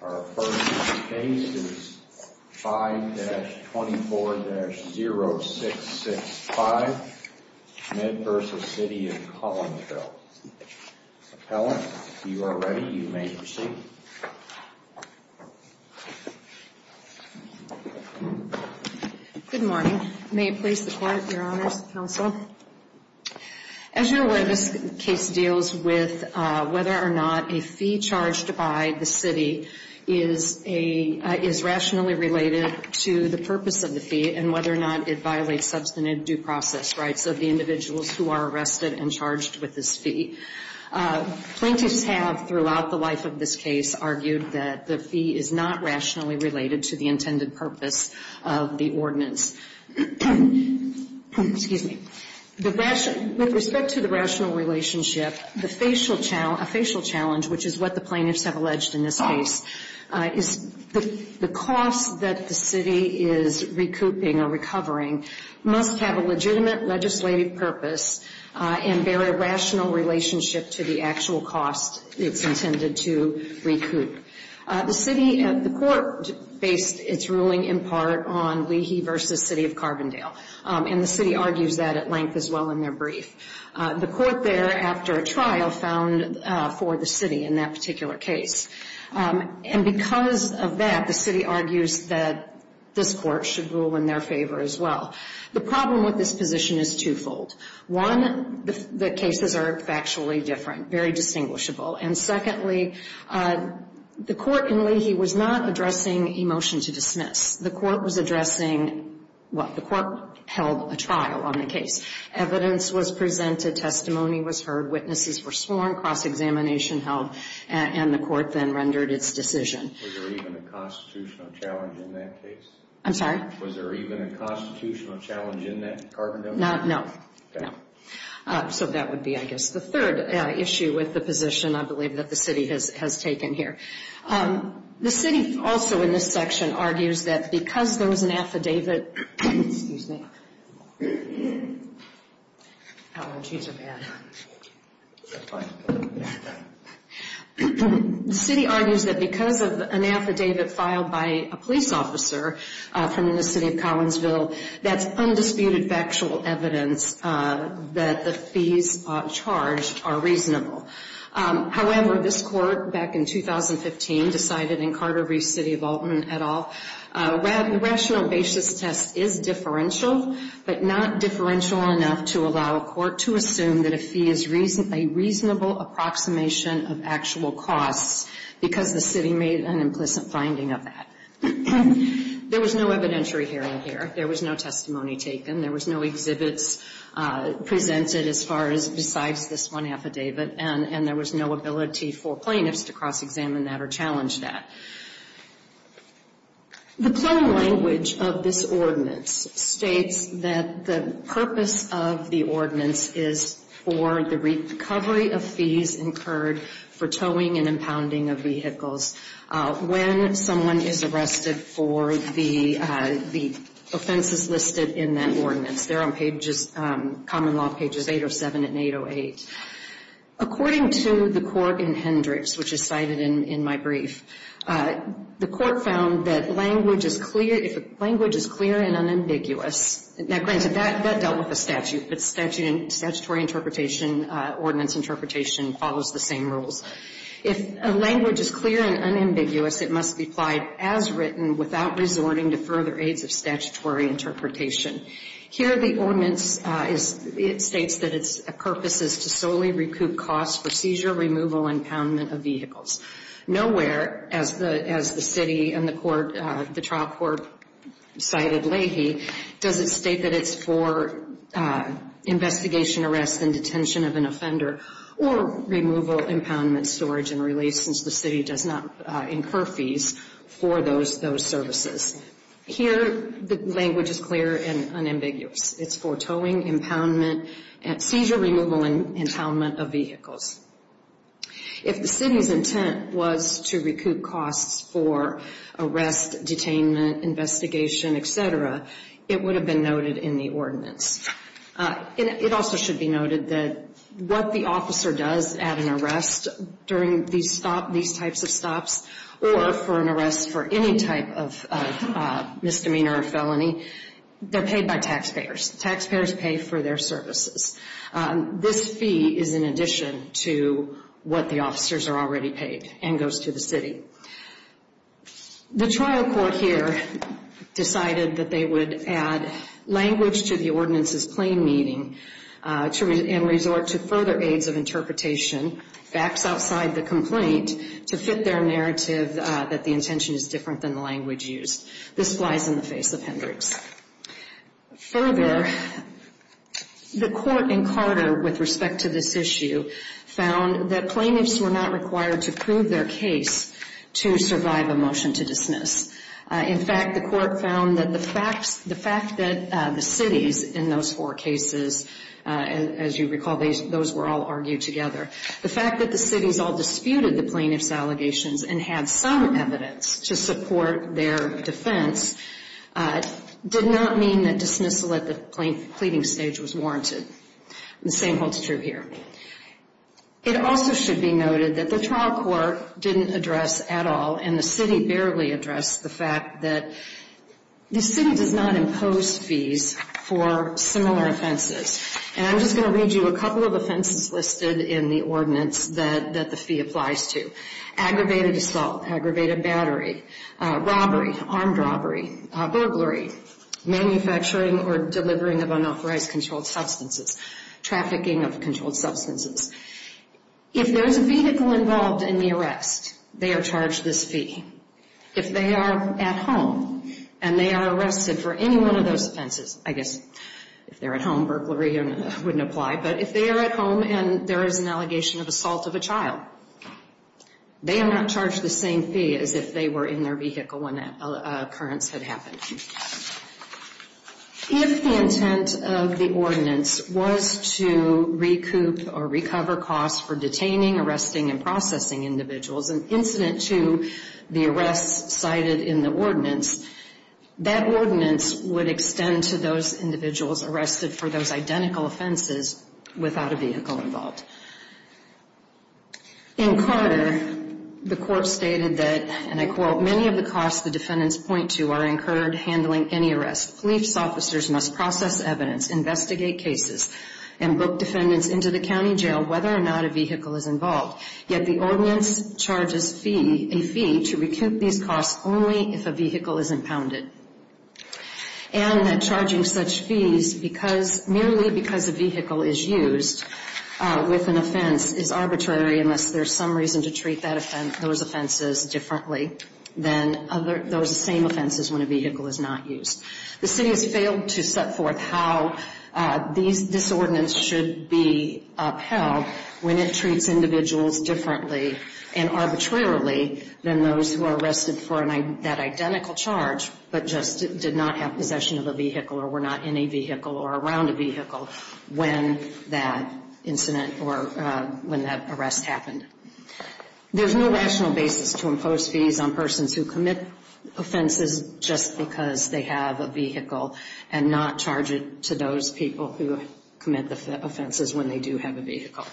Our first case is 5-24-0665, Mid-Versa City of Collinsville. Appellant, if you are ready, you may proceed. Good morning. May it please the Court, Your Honors, Counsel. As you are aware, this case deals with whether or not a fee charged by the city is rationally related to the purpose of the fee and whether or not it violates substantive due process rights of the individuals who are arrested and charged with this fee. Plaintiffs have, throughout the life of this case, argued that the fee is not rationally related to the intended purpose of the ordinance. Excuse me. With respect to the rational relationship, a facial challenge, which is what the plaintiffs have alleged in this case, is the cost that the city is recouping or recovering must have a legitimate legislative purpose and bear a rational relationship to the actual cost it's intended to recoup. The court based its ruling in part on Leahy v. City of Carbondale, and the city argues that at length as well in their brief. The court there, after a trial, found for the city in that particular case. And because of that, the city argues that this court should rule in their favor as well. The problem with this position is twofold. One, the cases are factually different, very distinguishable. And secondly, the court in Leahy was not addressing a motion to dismiss. The court was addressing, well, the court held a trial on the case. Evidence was presented, testimony was heard, witnesses were sworn, cross-examination held, and the court then rendered its decision. Was there even a constitutional challenge in that case? I'm sorry? Was there even a constitutional challenge in that in Carbondale? No. Okay. No. So that would be, I guess, the third issue with the position I believe that the city has taken here. The city also in this section argues that because there was an affidavit. Excuse me. Apologies are bad. The city argues that because of an affidavit filed by a police officer from the city of Collinsville, that's undisputed factual evidence that the fees charged are reasonable. However, this court back in 2015 decided in Carter Reef City of Alton et al., rational basis test is differential, but not differential enough to allow a court to assume that a fee is a reasonable approximation of actual costs because the city made an implicit finding of that. There was no evidentiary hearing here. There was no testimony taken. There was no exhibits presented as far as besides this one affidavit, and there was no ability for plaintiffs to cross-examine that or challenge that. The plain language of this ordinance states that the purpose of the ordinance is for the recovery of fees incurred for towing and impounding of vehicles. When someone is arrested for the offenses listed in that ordinance, they're on common law pages 807 and 808. According to the court in Hendricks, which is cited in my brief, the court found that language is clear and unambiguous. Now, granted, that dealt with the statute, but statutory interpretation, ordinance interpretation, follows the same rules. If a language is clear and unambiguous, it must be applied as written without resorting to further aids of statutory interpretation. Here, the ordinance states that its purpose is to solely recoup costs for seizure, removal, and impoundment of vehicles. Nowhere, as the city and the trial court cited Leahy, does it state that it's for investigation, arrest, and detention of an offender, or removal, impoundment, storage, and release, since the city does not incur fees for those services. Here, the language is clear and unambiguous. It's for towing, impoundment, seizure, removal, and impoundment of vehicles. If the city's intent was to recoup costs for arrest, detainment, investigation, etc., it would have been noted in the ordinance. It also should be noted that what the officer does at an arrest during these types of stops, or for an arrest for any type of misdemeanor or felony, they're paid by taxpayers. Taxpayers pay for their services. This fee is in addition to what the officers are already paid and goes to the city. The trial court here decided that they would add language to the ordinance's plain meaning and resort to further aids of interpretation, facts outside the complaint, to fit their narrative that the intention is different than the language used. This flies in the face of Hendricks. Further, the court in Carter, with respect to this issue, found that plaintiffs were not required to prove their case to survive a motion to dismiss. In fact, the court found that the fact that the cities in those four cases, as you recall, those were all argued together, the fact that the cities all disputed the plaintiffs' allegations and had some evidence to support their defense did not mean that dismissal at the pleading stage was warranted. The same holds true here. It also should be noted that the trial court didn't address at all, and the city barely addressed the fact that the city does not impose fees for similar offenses. And I'm just going to read you a couple of offenses listed in the ordinance that the fee applies to. Aggravated assault, aggravated battery, robbery, armed robbery, burglary, manufacturing or delivering of unauthorized controlled substances, trafficking of controlled substances. If there is a vehicle involved in the arrest, they are charged this fee. If they are at home and they are arrested for any one of those offenses, I guess if they're at home, burglary wouldn't apply, but if they are at home and there is an allegation of assault of a child, they are not charged the same fee as if they were in their vehicle when that occurrence had happened. If the intent of the ordinance was to recoup or recover costs for detaining, arresting, and processing individuals, and incident to the arrests cited in the ordinance, that ordinance would extend to those individuals arrested for those identical offenses without a vehicle involved. In Carter, the court stated that, and I quote, many of the costs the defendants point to are incurred handling any arrest. Police officers must process evidence, investigate cases, and book defendants into the county jail whether or not a vehicle is involved. Yet the ordinance charges a fee to recoup these costs only if a vehicle is impounded. And that charging such fees merely because a vehicle is used with an offense is arbitrary unless there is some reason to treat those offenses differently than those same offenses when a vehicle is not used. The city has failed to set forth how this ordinance should be upheld when it treats individuals differently and arbitrarily than those who are arrested for that identical charge but just did not have possession of a vehicle or were not in a vehicle or around a vehicle when that incident or when that arrest happened. There's no rational basis to impose fees on persons who commit offenses just because they have a vehicle and not charge it to those people who commit the offenses when they do have a vehicle.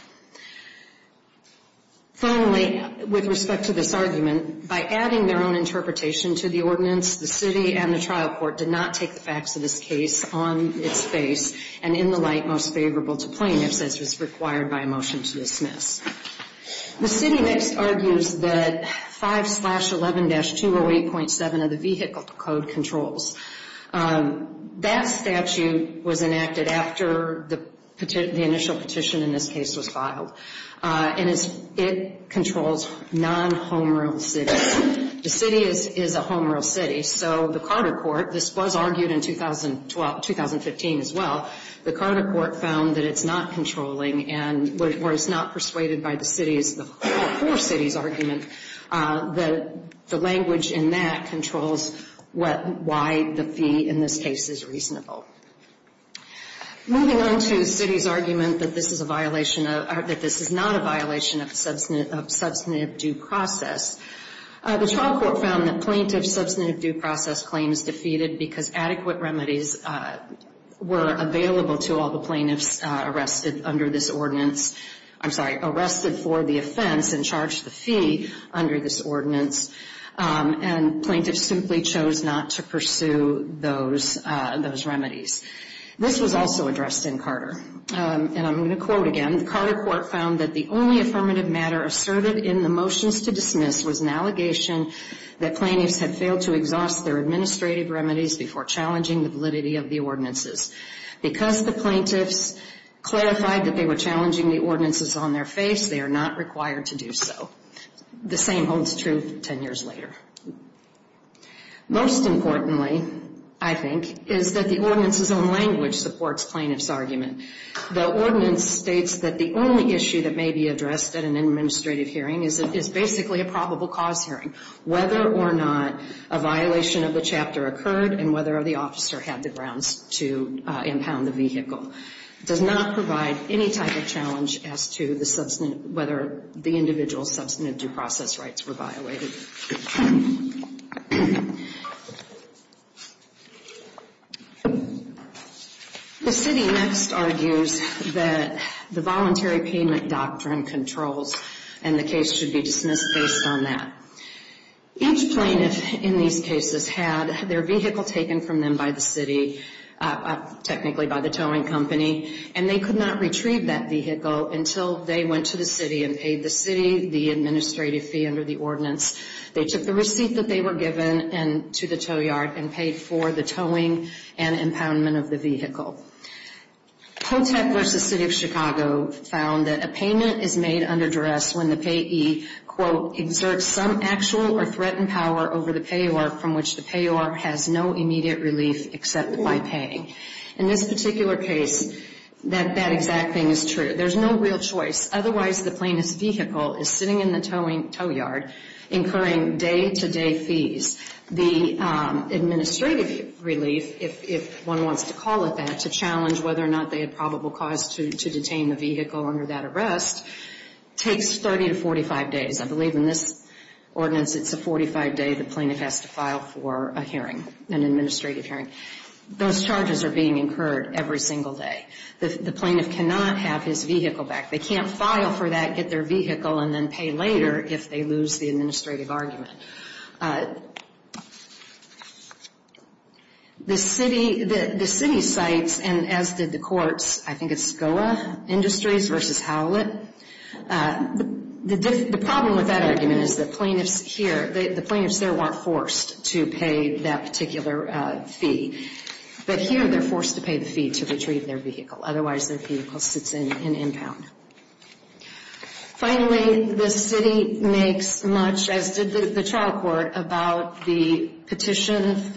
Finally, with respect to this argument, by adding their own interpretation to the ordinance, the city and the trial court did not take the facts of this case on its face and in the light most favorable to plaintiffs as was required by a motion to dismiss. The city next argues that 5-11-208.7 of the Vehicle Code controls. That statute was enacted after the initial petition in this case was filed. And it controls non-home real estate. The city is a home real city, so the Carter court, this was argued in 2015 as well, the Carter court found that it's not controlling and was not persuaded by the city's argument that the language in that controls why the fee in this case is reasonable. Moving on to the city's argument that this is a violation, that this is not a violation of substantive due process, the trial court found that plaintiff's substantive due process claim is defeated because adequate remedies were available to all the plaintiffs arrested under this ordinance. I'm sorry, arrested for the offense and charged the fee under this ordinance. And plaintiffs simply chose not to pursue those remedies. This was also addressed in Carter. And I'm going to quote again. The Carter court found that the only affirmative matter asserted in the motions to dismiss was an allegation that plaintiffs had failed to exhaust their administrative remedies before challenging the validity of the ordinances. Because the plaintiffs clarified that they were challenging the ordinances on their face, they are not required to do so. The same holds true 10 years later. Most importantly, I think, is that the ordinance's own language supports plaintiff's argument. The ordinance states that the only issue that may be addressed at an administrative hearing is basically a probable cause hearing. Whether or not a violation of the chapter occurred and whether the officer had the grounds to impound the vehicle does not provide any type of challenge as to whether the individual's substantive due process rights were violated. The city next argues that the voluntary payment doctrine controls and the case should be dismissed based on that. Each plaintiff in these cases had their vehicle taken from them by the city, technically by the towing company, and they could not retrieve that vehicle until they went to the city and paid the city the administrative fee under the ordinance. They took the receipt that they were given to the tow yard and paid for the towing and impoundment of the vehicle. Potek v. City of Chicago found that a payment is made under duress when the payee, quote, In this particular case, that exact thing is true. There's no real choice. Otherwise, the plaintiff's vehicle is sitting in the tow yard incurring day-to-day fees. The administrative relief, if one wants to call it that, to challenge whether or not they had probable cause to detain the vehicle under that arrest takes 30 to 45 days. I believe in this ordinance it's a 45-day the plaintiff has to file for a hearing, an administrative hearing. Those charges are being incurred every single day. The plaintiff cannot have his vehicle back. They can't file for that, get their vehicle, and then pay later if they lose the administrative argument. The city cites, and as did the courts, I think it's SCOA Industries v. Howlett, the problem with that argument is the plaintiffs here, the plaintiffs there weren't forced to pay that particular fee. But here they're forced to pay the fee to retrieve their vehicle. Otherwise, their vehicle sits in impound. Finally, the city makes much, as did the trial court, about the petition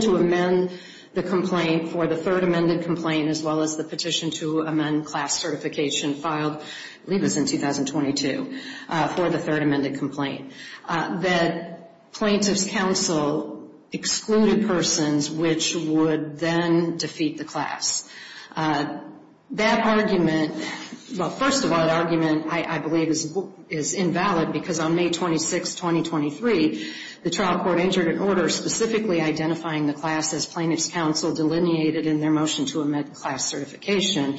to amend the complaint for the third amended complaint as well as the petition to amend class certification filed, I believe it was in 2022, for the third amended complaint. That plaintiff's counsel excluded persons which would then defeat the class. That argument, well, first of all, the argument I believe is invalid because on May 26, 2023, the trial court entered an order specifically identifying the class as plaintiff's counsel delineated in their motion to amend class certification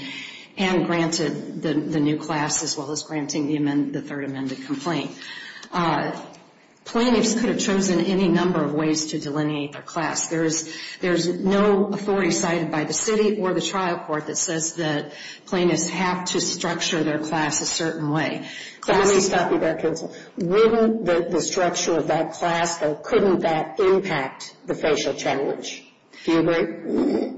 and granted the new class as well as granting the third amended complaint. Plaintiffs could have chosen any number of ways to delineate their class. There's no authority cited by the city or the trial court that says that plaintiffs have to structure their class a certain way. But let me stop you there, Counsel. Wouldn't the structure of that class, though, couldn't that impact the facial challenge? Do you agree?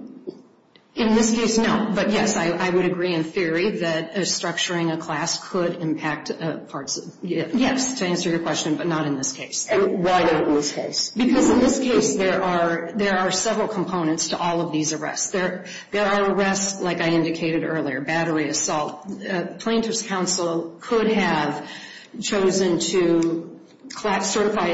In this case, no. But, yes, I would agree in theory that structuring a class could impact parts of it. Yes, to answer your question, but not in this case. And why not in this case? Because in this case there are several components to all of these arrests. There are arrests, like I indicated earlier, battery, assault. Plaintiff's counsel could have chosen to attempt to certify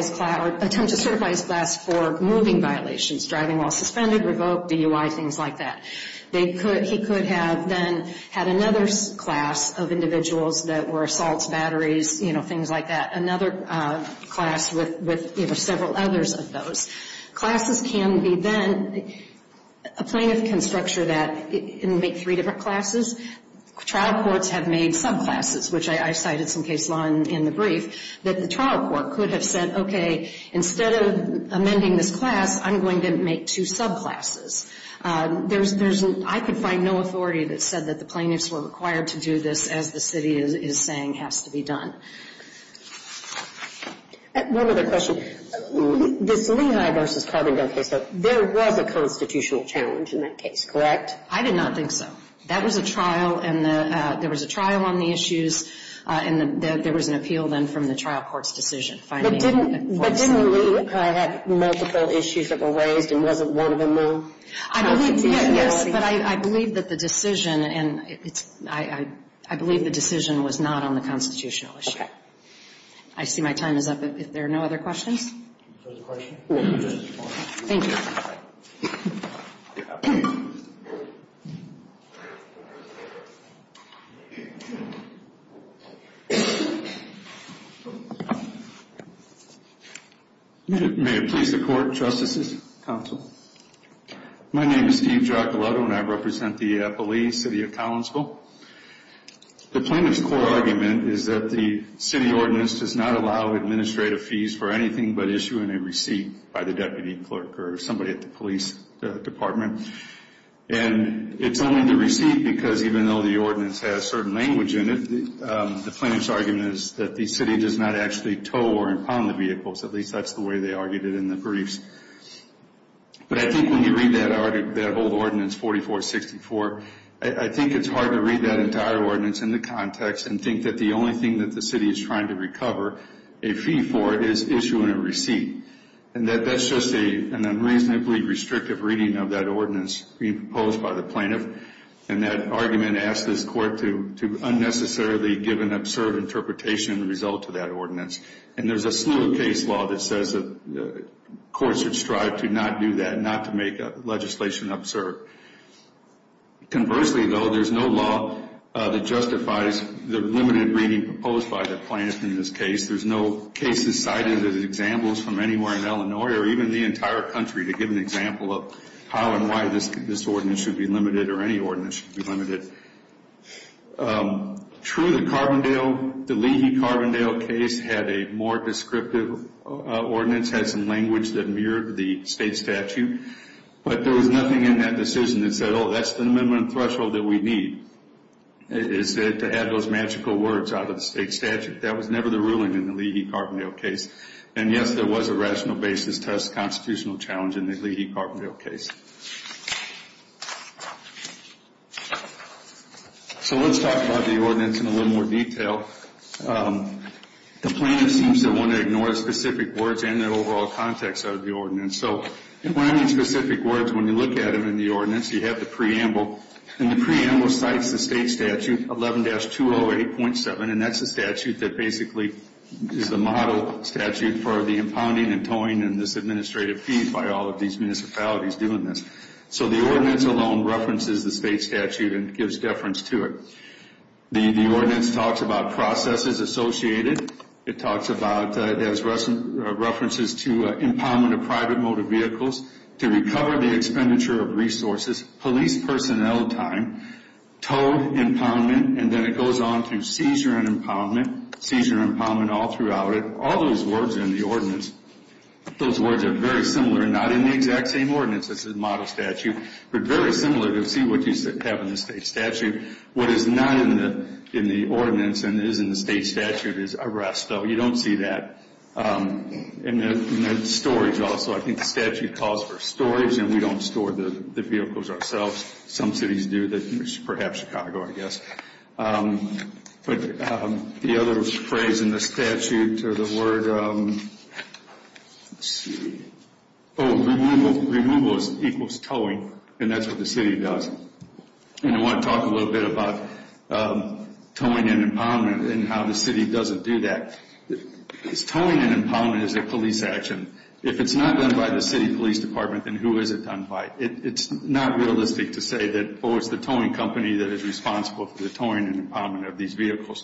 his class for moving violations, driving while suspended, revoked, DUI, things like that. He could have then had another class of individuals that were assaults, batteries, you know, things like that, another class with several others of those. Classes can be then a plaintiff can structure that and make three different classes. Trial courts have made subclasses, which I cited some case law in the brief, that the trial court could have said, okay, instead of amending this class, I'm going to make two subclasses. I could find no authority that said that the plaintiffs were required to do this, as the city is saying has to be done. One other question. This Lehigh v. Carbondale case, though, there was a constitutional challenge in that case, correct? I did not think so. That was a trial, and there was a trial on the issues, and there was an appeal then from the trial court's decision. But didn't Lehigh have multiple issues that were raised and wasn't one of them the constitutionality? Yes, but I believe that the decision, and I believe the decision was not on the constitutional issue. Okay. I see my time is up. If there are no other questions. Thank you. May it please the Court, Justices, Counsel. My name is Steve Giacolotto, and I represent the Belize City of Collinsville. The plaintiff's core argument is that the city ordinance does not allow administrative fees for anything but issuing a receipt by the deputy clerk or somebody at the police department. And it's only the receipt because even though the ordinance has certain language in it, the plaintiff's argument is that the city does not actually tow or impound the vehicles. At least that's the way they argued it in the briefs. But I think when you read that old ordinance 4464, I think it's hard to read that entire ordinance in the context and think that the only thing that the city is trying to recover a fee for is issuing a receipt. And that's just an unreasonably restrictive reading of that ordinance being proposed by the plaintiff. And that argument asks this court to unnecessarily give an absurd interpretation as a result of that ordinance. And there's a slew of case law that says that courts should strive to not do that, not to make legislation absurd. Conversely, though, there's no law that justifies the limited reading proposed by the plaintiff in this case. There's no cases cited as examples from anywhere in Illinois or even the entire country to give an example of how and why this ordinance should be limited or any ordinance should be limited. True, the Carbondale, the Leahy-Carbondale case had a more descriptive ordinance, had some language that mirrored the state statute. But there was nothing in that decision that said, oh, that's the minimum threshold that we need, is to have those magical words out of the state statute. That was never the ruling in the Leahy-Carbondale case. And yes, there was a rational basis test constitutional challenge in the Leahy-Carbondale case. So let's talk about the ordinance in a little more detail. The plaintiff seems to want to ignore specific words and the overall context of the ordinance. So when I mean specific words, when you look at them in the ordinance, you have the preamble. And the preamble cites the state statute 11-208.7, and that's the statute that basically is the model statute for the impounding and towing and this administrative fee by all of these municipalities doing this. So the ordinance alone references the state statute and gives deference to it. The ordinance talks about processes associated. It talks about, it has references to impoundment of private motor vehicles, to recover the expenditure of resources, police personnel time, towed impoundment, and then it goes on to seizure and impoundment, seizure and impoundment all throughout it. All those words are in the ordinance. Those words are very similar, not in the exact same ordinance as the model statute, but very similar to see what you have in the state statute. What is not in the ordinance and is in the state statute is arrest. You don't see that in the storage also. I think the statute calls for storage, and we don't store the vehicles ourselves. Some cities do, perhaps Chicago, I guess. The other phrase in the statute or the word, removal equals towing, and that's what the city does. I want to talk a little bit about towing and impoundment and how the city doesn't do that. Towing and impoundment is a police action. If it's not done by the city police department, then who is it done by? It's not realistic to say that, oh, it's the towing company that is responsible for the towing and impoundment of these vehicles.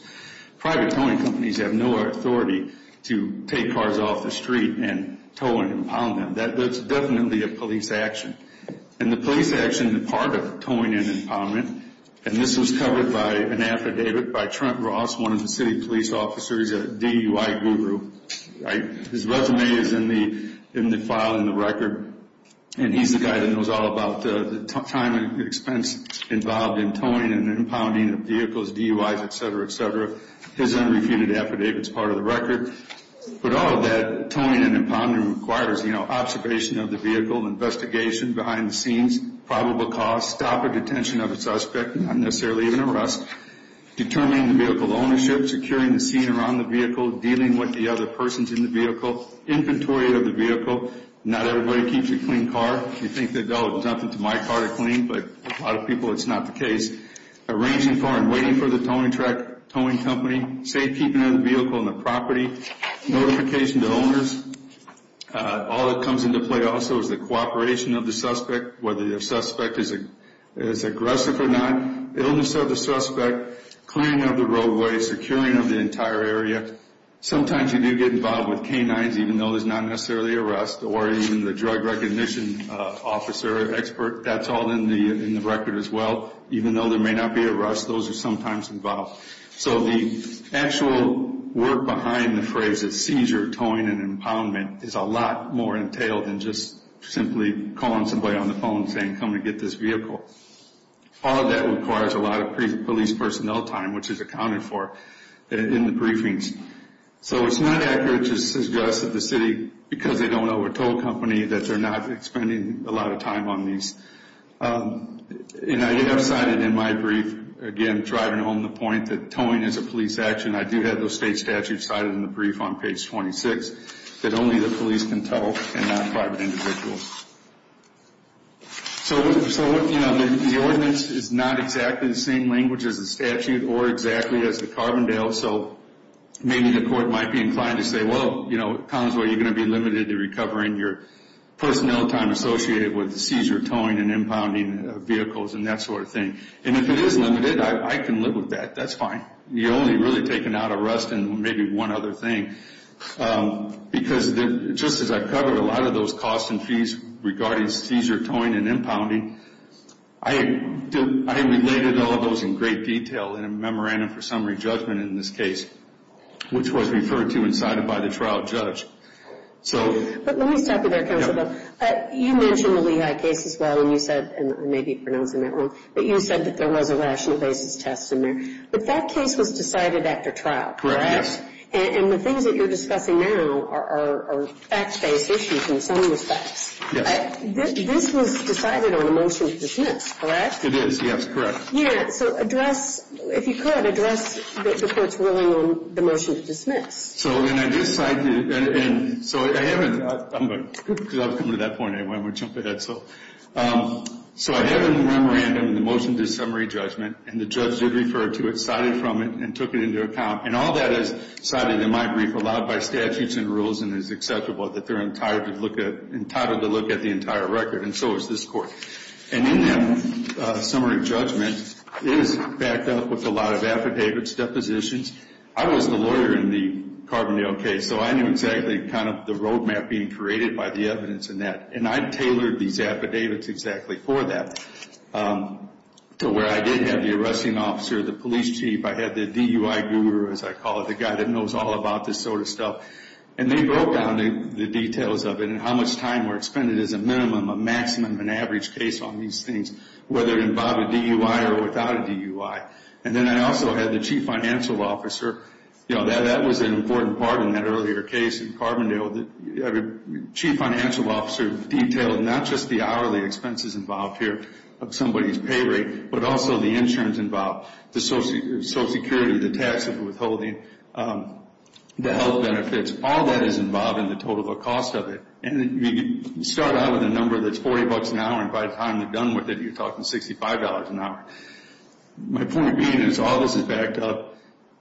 Private towing companies have no authority to take cars off the street and tow and impound them. That's definitely a police action. The police action, the part of towing and impoundment, and this was covered by an affidavit by Trent Ross, one of the city police officers, a DUI guru. His resume is in the file in the record, and he's the guy that knows all about the time and expense involved in towing and impounding of vehicles, DUIs, et cetera, et cetera. His unrefuted affidavit is part of the record. But all of that, towing and impoundment requires observation of the vehicle, investigation behind the scenes, probable cause, stop or detention of a suspect, not necessarily even arrest, determining the vehicle ownership, securing the scene around the vehicle, dealing with the other persons in the vehicle, inventory of the vehicle. Not everybody keeps a clean car. You think that they'll jump into my car to clean, but a lot of people it's not the case. Arranging for and waiting for the towing truck, towing company, safekeeping of the vehicle and the property, notification to owners. All that comes into play also is the cooperation of the suspect, whether the suspect is aggressive or not, illness of the suspect, cleaning of the roadway, securing of the entire area. Sometimes you do get involved with canines, even though there's not necessarily arrest, or even the drug recognition officer, expert, that's all in the record as well. Even though there may not be arrest, those are sometimes involved. So the actual work behind the phrases seizure, towing, and impoundment is a lot more entailed than just simply calling somebody on the phone and saying, come and get this vehicle. All of that requires a lot of police personnel time, which is accounted for in the briefings. So it's not accurate to suggest that the city, because they don't have a tow company, that they're not spending a lot of time on these. And I have cited in my brief, again, driving home the point that towing is a police action. I do have those state statutes cited in the brief on page 26 that only the police can tow and not private individuals. So, you know, the ordinance is not exactly the same language as the statute or exactly as the Carbondale. So maybe the court might be inclined to say, well, you know, Collinsville, you're going to be limited to recovering your personnel time associated with the seizure, towing, and impounding of vehicles and that sort of thing. And if it is limited, I can live with that. That's fine. You're only really taking out arrest and maybe one other thing. Because just as I covered a lot of those costs and fees regarding seizure, towing, and impounding, I related all of those in great detail in a memorandum for summary judgment in this case, which was referred to and cited by the trial judge. But let me stop you there, Counsel. You mentioned the Lehigh case as well, and you said, and maybe I'm pronouncing that wrong, but you said that there was a rational basis test in there. But that case was decided after trial, correct? And the things that you're discussing now are fact-based issues in some respects. This was decided on a motion to dismiss, correct? It is, yes, correct. Yeah. So address, if you could, address the court's ruling on the motion to dismiss. So when I decided, and so I haven't, because I was coming to that point anyway, I'm going to jump ahead. So I have in the memorandum the motion to summary judgment, and the judge did refer to it, cited from it, and took it into account. And all that is cited in my brief, allowed by statutes and rules and is acceptable, that they're entitled to look at the entire record, and so is this court. And in that summary judgment, it is backed up with a lot of affidavits, depositions. I was the lawyer in the Carbondale case, so I knew exactly kind of the roadmap being created by the evidence in that. And I tailored these affidavits exactly for that, to where I did have the arresting officer, the police chief. I had the DUI guru, as I call it, the guy that knows all about this sort of stuff. And they broke down the details of it, and how much time were expended as a minimum, a maximum, an average case on these things, whether it involved a DUI or without a DUI. And then I also had the chief financial officer. You know, that was an important part in that earlier case in Carbondale. The chief financial officer detailed not just the hourly expenses involved here of somebody's pay rate, but also the insurance involved, the social security, the tax of withholding, the health benefits. All that is involved in the total cost of it. And you start out with a number that's $40 an hour, and by the time you're done with it, you're talking $65 an hour. My point being is all this is backed up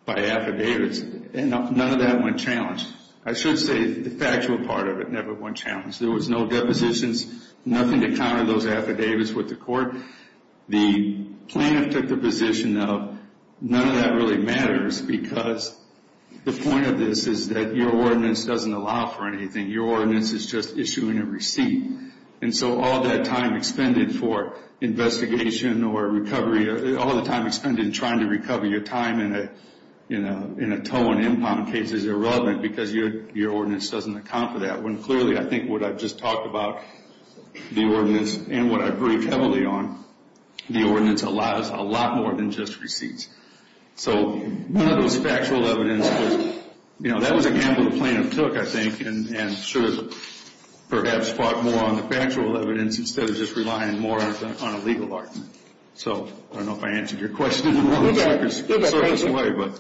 by affidavits, and none of that went challenged. I should say the factual part of it never went challenged. There was no depositions, nothing to counter those affidavits with the court. The plaintiff took the position of none of that really matters because the point of this is that your ordinance doesn't allow for anything. Your ordinance is just issuing a receipt. And so all that time expended for investigation or recovery, all the time expended in trying to recover your time in a tow and impound case is irrelevant because your ordinance doesn't account for that, when clearly I think what I've just talked about, the ordinance, and what I've briefed heavily on, the ordinance allows a lot more than just receipts. So none of those factual evidence was, you know, that was a gamble the plaintiff took, I think, and should have perhaps fought more on the factual evidence instead of just relying more on a legal argument. So I don't know if I answered your question in the wrong sort of way, but... Go back, go back.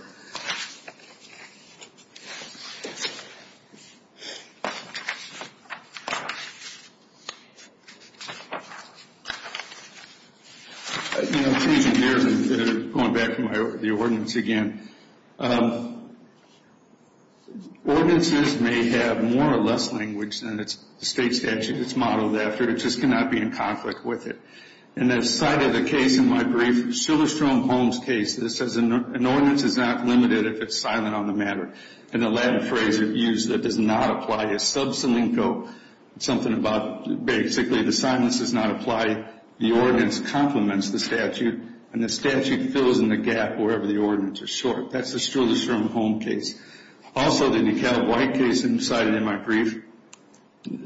You know, I'm changing gears and going back to the ordinance again. Ordinances may have more or less language than the state statute that's modeled after. It just cannot be in conflict with it. And I've cited a case in my brief, Shuler-Strohm-Holmes case, that says an ordinance is not limited if it's silent on the matter. In the Latin phrase it's used, it does not apply. It's sub silenco, it's something about basically the silence does not apply, the ordinance complements the statute, and the statute fills in the gap wherever the ordinance is short. That's the Shuler-Strohm-Holmes case. Also, the Nickell-White case I've cited in my brief,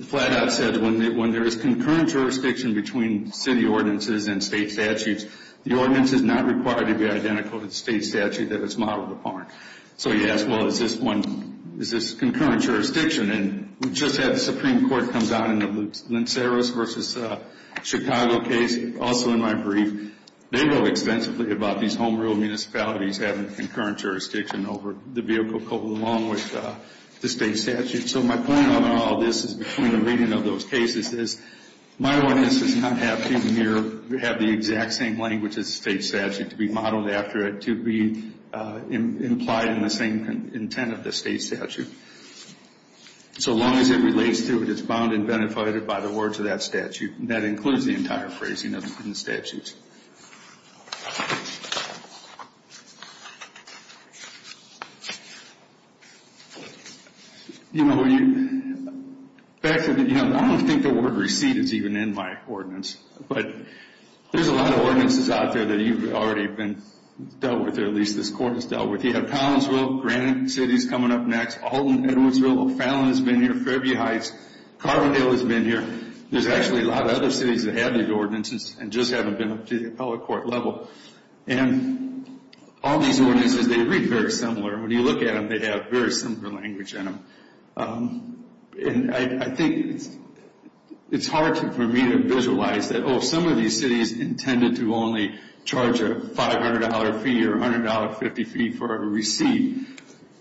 flat out said when there is concurrent jurisdiction between city ordinances and state statutes, the ordinance is not required to be identical to the state statute that it's modeled upon. So you ask, well, is this concurrent jurisdiction? And just as the Supreme Court comes out in the Linceras v. Chicago case, also in my brief, they go extensively about these home-rule municipalities having concurrent jurisdiction over the vehicle coupled along with the state statute. So my point on all this is between the reading of those cases is my ordinance does not have to have the exact same language as the state statute to be modeled after it, to be implied in the same intent of the state statute. So long as it relates to it, it's bound and benefitted by the words of that statute. That includes the entire phrasing of the statutes. You know, I don't think the word receipt is even in my ordinance, but there's a lot of ordinances out there that you've already dealt with, or at least this Court has dealt with. You have Collinsville, Granite City is coming up next, Alton, Edwardsville, O'Fallon has been here, Fairview Heights, Carbondale has been here. There's actually a lot of other cities that have these ordinances and just haven't been approved. to the appellate court level. And all these ordinances, they read very similar. When you look at them, they have very similar language in them. And I think it's hard for me to visualize that, oh, some of these cities intended to only charge a $500 fee or $100.50 fee for a receipt,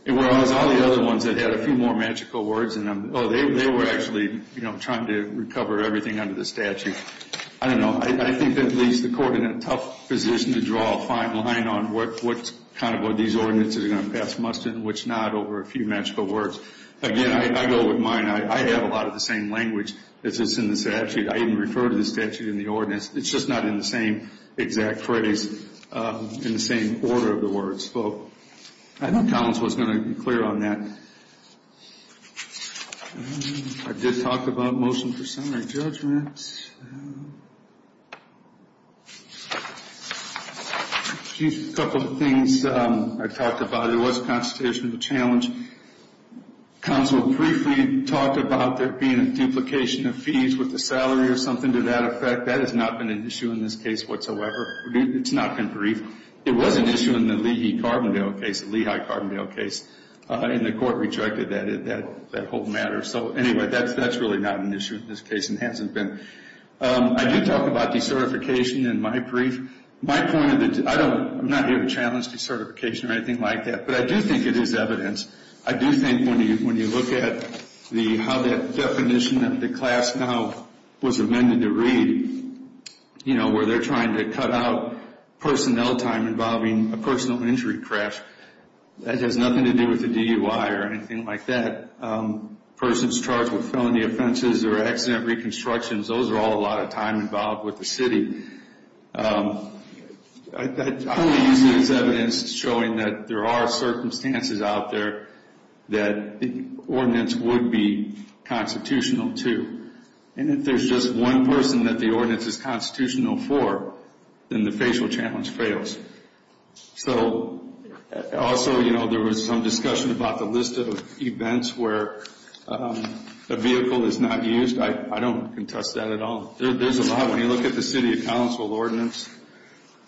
whereas all the other ones that had a few more magical words in them, oh, they were actually, you know, trying to recover everything under the statute. I don't know. I think at least the Court is in a tough position to draw a fine line on what kind of what these ordinances are going to pass must and which not over a few magical words. Again, I go with mine. I have a lot of the same language that's just in the statute. I even refer to the statute in the ordinance. It's just not in the same exact phrase, in the same order of the words. So I think Collinsville is going to be clear on that. I did talk about motion for summary judgment. A couple of things I talked about. There was a constitutional challenge. Collinsville briefly talked about there being a duplication of fees with the salary or something to that effect. That has not been an issue in this case whatsoever. It's not been briefed. It was an issue in the Lehigh-Carbondale case, and the Court rejected that whole matter. So anyway, that's really not an issue in this case and hasn't been. I did talk about decertification in my brief. My point is that I'm not here to challenge decertification or anything like that, but I do think it is evidence. I do think when you look at how that definition of the class now was amended to read, you know, where they're trying to cut out personnel time involving a personal injury crash, that has nothing to do with the DUI or anything like that. Persons charged with felony offenses or accident reconstructions, those are all a lot of time involved with the city. I only use it as evidence showing that there are circumstances out there that the ordinance would be constitutional, too. And if there's just one person that the ordinance is constitutional for, then the facial challenge fails. So also, you know, there was some discussion about the list of events where a vehicle is not used. I don't contest that at all. There's a lot. When you look at the City of Council ordinance,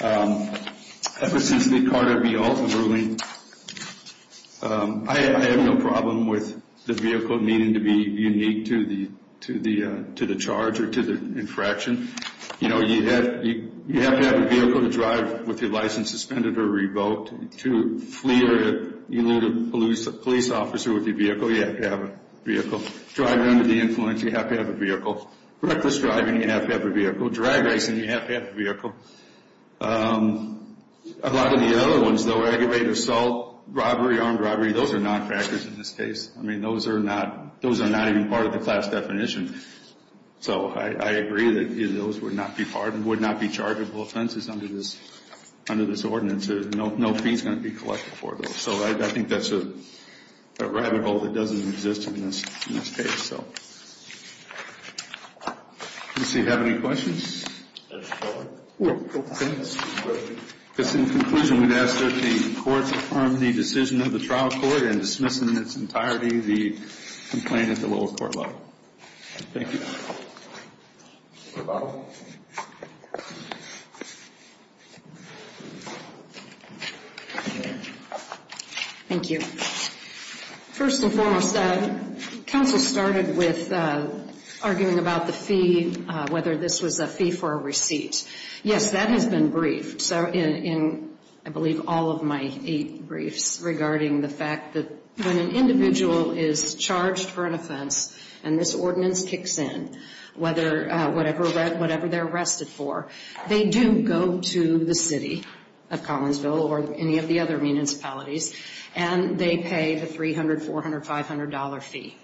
ever since the Carter v. Alton ruling, I have no problem with the vehicle needing to be unique to the charge or to the infraction. You know, you have to have a vehicle to drive with your license suspended or revoked. To flee or elude a police officer with your vehicle, you have to have a vehicle. Driving under the influence, you have to have a vehicle. Reckless driving, you have to have a vehicle. Drag racing, you have to have a vehicle. A lot of the other ones, though, aggravated assault, robbery, armed robbery, those are non-factors in this case. I mean, those are not even part of the class definition. So I agree that those would not be pardoned, would not be chargable offenses under this ordinance. No fee is going to be collected for those. So I think that's a rabbit hole that doesn't exist in this case. So, let's see, do we have any questions? No questions. In conclusion, we'd ask that the courts affirm the decision of the trial court and dismiss in its entirety the complaint at the lower court level. Thank you. Thank you. First and foremost, counsel started with arguing about the fee, whether this was a fee for a receipt. Yes, that has been briefed. So in, I believe, all of my eight briefs regarding the fact that when an individual is charged for an offense and this ordinance kicks in, whatever they're arrested for, they do go to the city of Collinsville or any of the other municipalities, and they pay the $300, $400, $500 fee.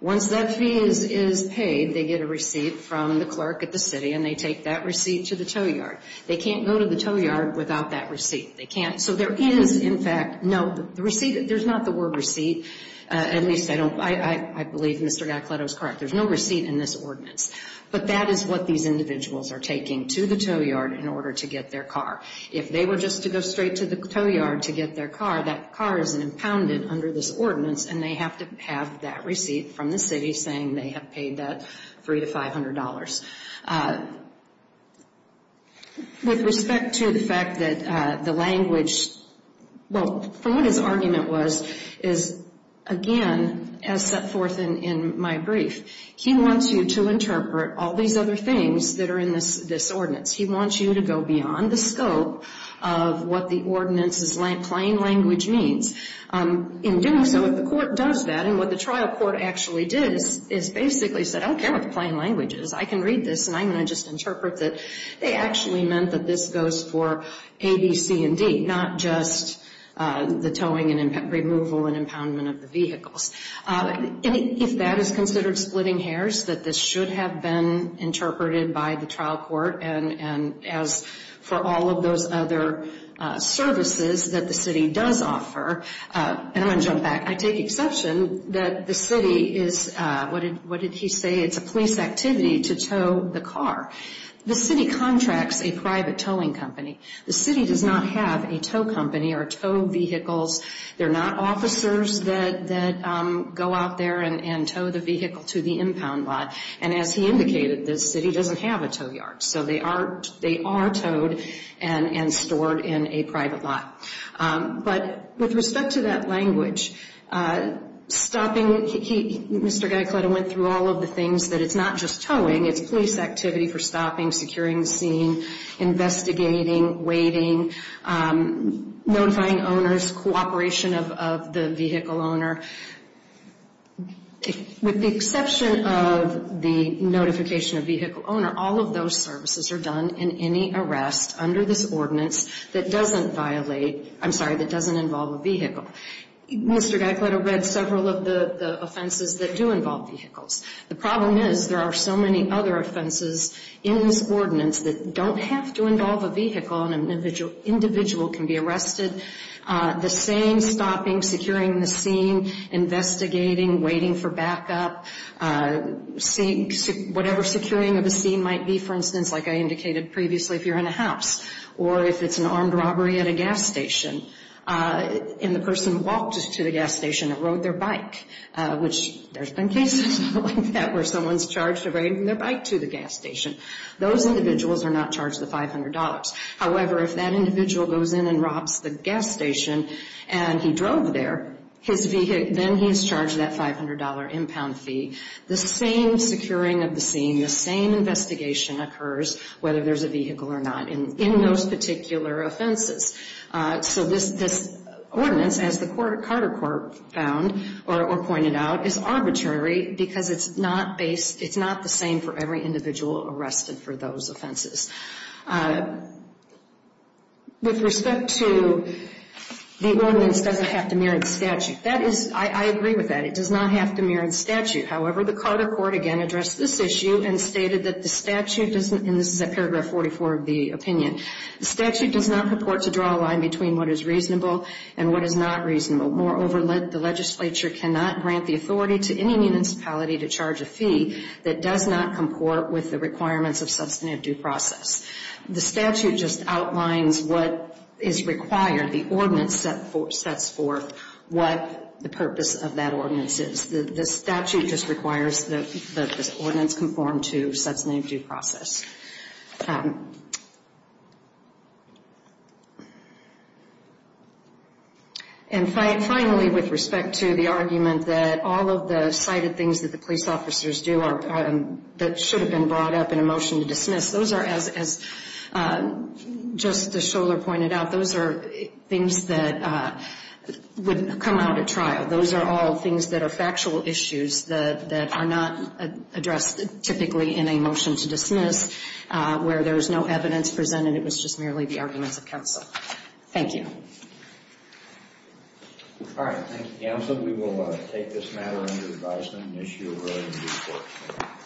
Once that fee is paid, they get a receipt from the clerk at the city, and they take that receipt to the tow yard. They can't go to the tow yard without that receipt. They can't. So there is, in fact, no, the receipt, there's not the word receipt. At least I don't, I believe Mr. Giacletto is correct. There's no receipt in this ordinance. But that is what these individuals are taking to the tow yard in order to get their car. If they were just to go straight to the tow yard to get their car, that car is impounded under this ordinance, and they have to have that receipt from the city saying they have paid that $300 to $500. With respect to the fact that the language, well, from what his argument was, is, again, as set forth in my brief, he wants you to interpret all these other things that are in this ordinance. He wants you to go beyond the scope of what the ordinance's plain language means. In doing so, if the court does that, and what the trial court actually did is basically said, I don't care what the plain language is, I can read this, and I'm going to just interpret that they actually meant that this goes for A, B, C, and D, not just the towing and removal and impoundment of the vehicles. And if that is considered splitting hairs, that this should have been interpreted by the trial court, and as for all of those other services that the city does offer. And I'm going to jump back. I take exception that the city is, what did he say? It's a police activity to tow the car. The city contracts a private towing company. The city does not have a tow company or tow vehicles. They're not officers that go out there and tow the vehicle to the impound lot. And as he indicated, the city doesn't have a tow yard. So they are towed and stored in a private lot. But with respect to that language, stopping, Mr. Giacletta went through all of the things, that it's not just towing, it's police activity for stopping, securing the scene, investigating, waiting, notifying owners, cooperation of the vehicle owner. With the exception of the notification of vehicle owner, all of those services are done in any arrest under this ordinance that doesn't violate, I'm sorry, that doesn't involve a vehicle. Mr. Giacletta read several of the offenses that do involve vehicles. The problem is there are so many other offenses in this ordinance that don't have to involve a vehicle. An individual can be arrested. The same stopping, securing the scene, investigating, waiting for backup, whatever securing of a scene might be, for instance, like I indicated previously, if you're in a house, or if it's an armed robbery at a gas station, and the person walked to the gas station and rode their bike, which there's been cases like that where someone's charged of riding their bike to the gas station. Those individuals are not charged the $500. However, if that individual goes in and robs the gas station and he drove there, then he's charged that $500 impound fee. The same securing of the scene, the same investigation occurs whether there's a vehicle or not in those particular offenses. So this ordinance, as the Carter Court found or pointed out, is arbitrary because it's not the same for every individual arrested for those offenses. With respect to the ordinance doesn't have to mirror the statute. I agree with that. It does not have to mirror the statute. However, the Carter Court again addressed this issue and stated that the statute doesn't, and this is at paragraph 44 of the opinion, the statute does not purport to draw a line between what is reasonable and what is not reasonable. Moreover, the legislature cannot grant the authority to any municipality to charge a fee that does not comport with the requirements of substantive due process. The statute just outlines what is required. The ordinance sets forth what the purpose of that ordinance is. The statute just requires that this ordinance conform to substantive due process. And finally, with respect to the argument that all of the cited things that the police officers do that should have been brought up in a motion to dismiss, those are, as Justice Scholar pointed out, those are things that would come out at trial. Those are all things that are factual issues that are not addressed typically in a motion to dismiss. Where there is no evidence presented, it was just merely the arguments of counsel. Thank you. All right. Thank you, Counsel. We will take this matter under advisement and issue a ruling in due course.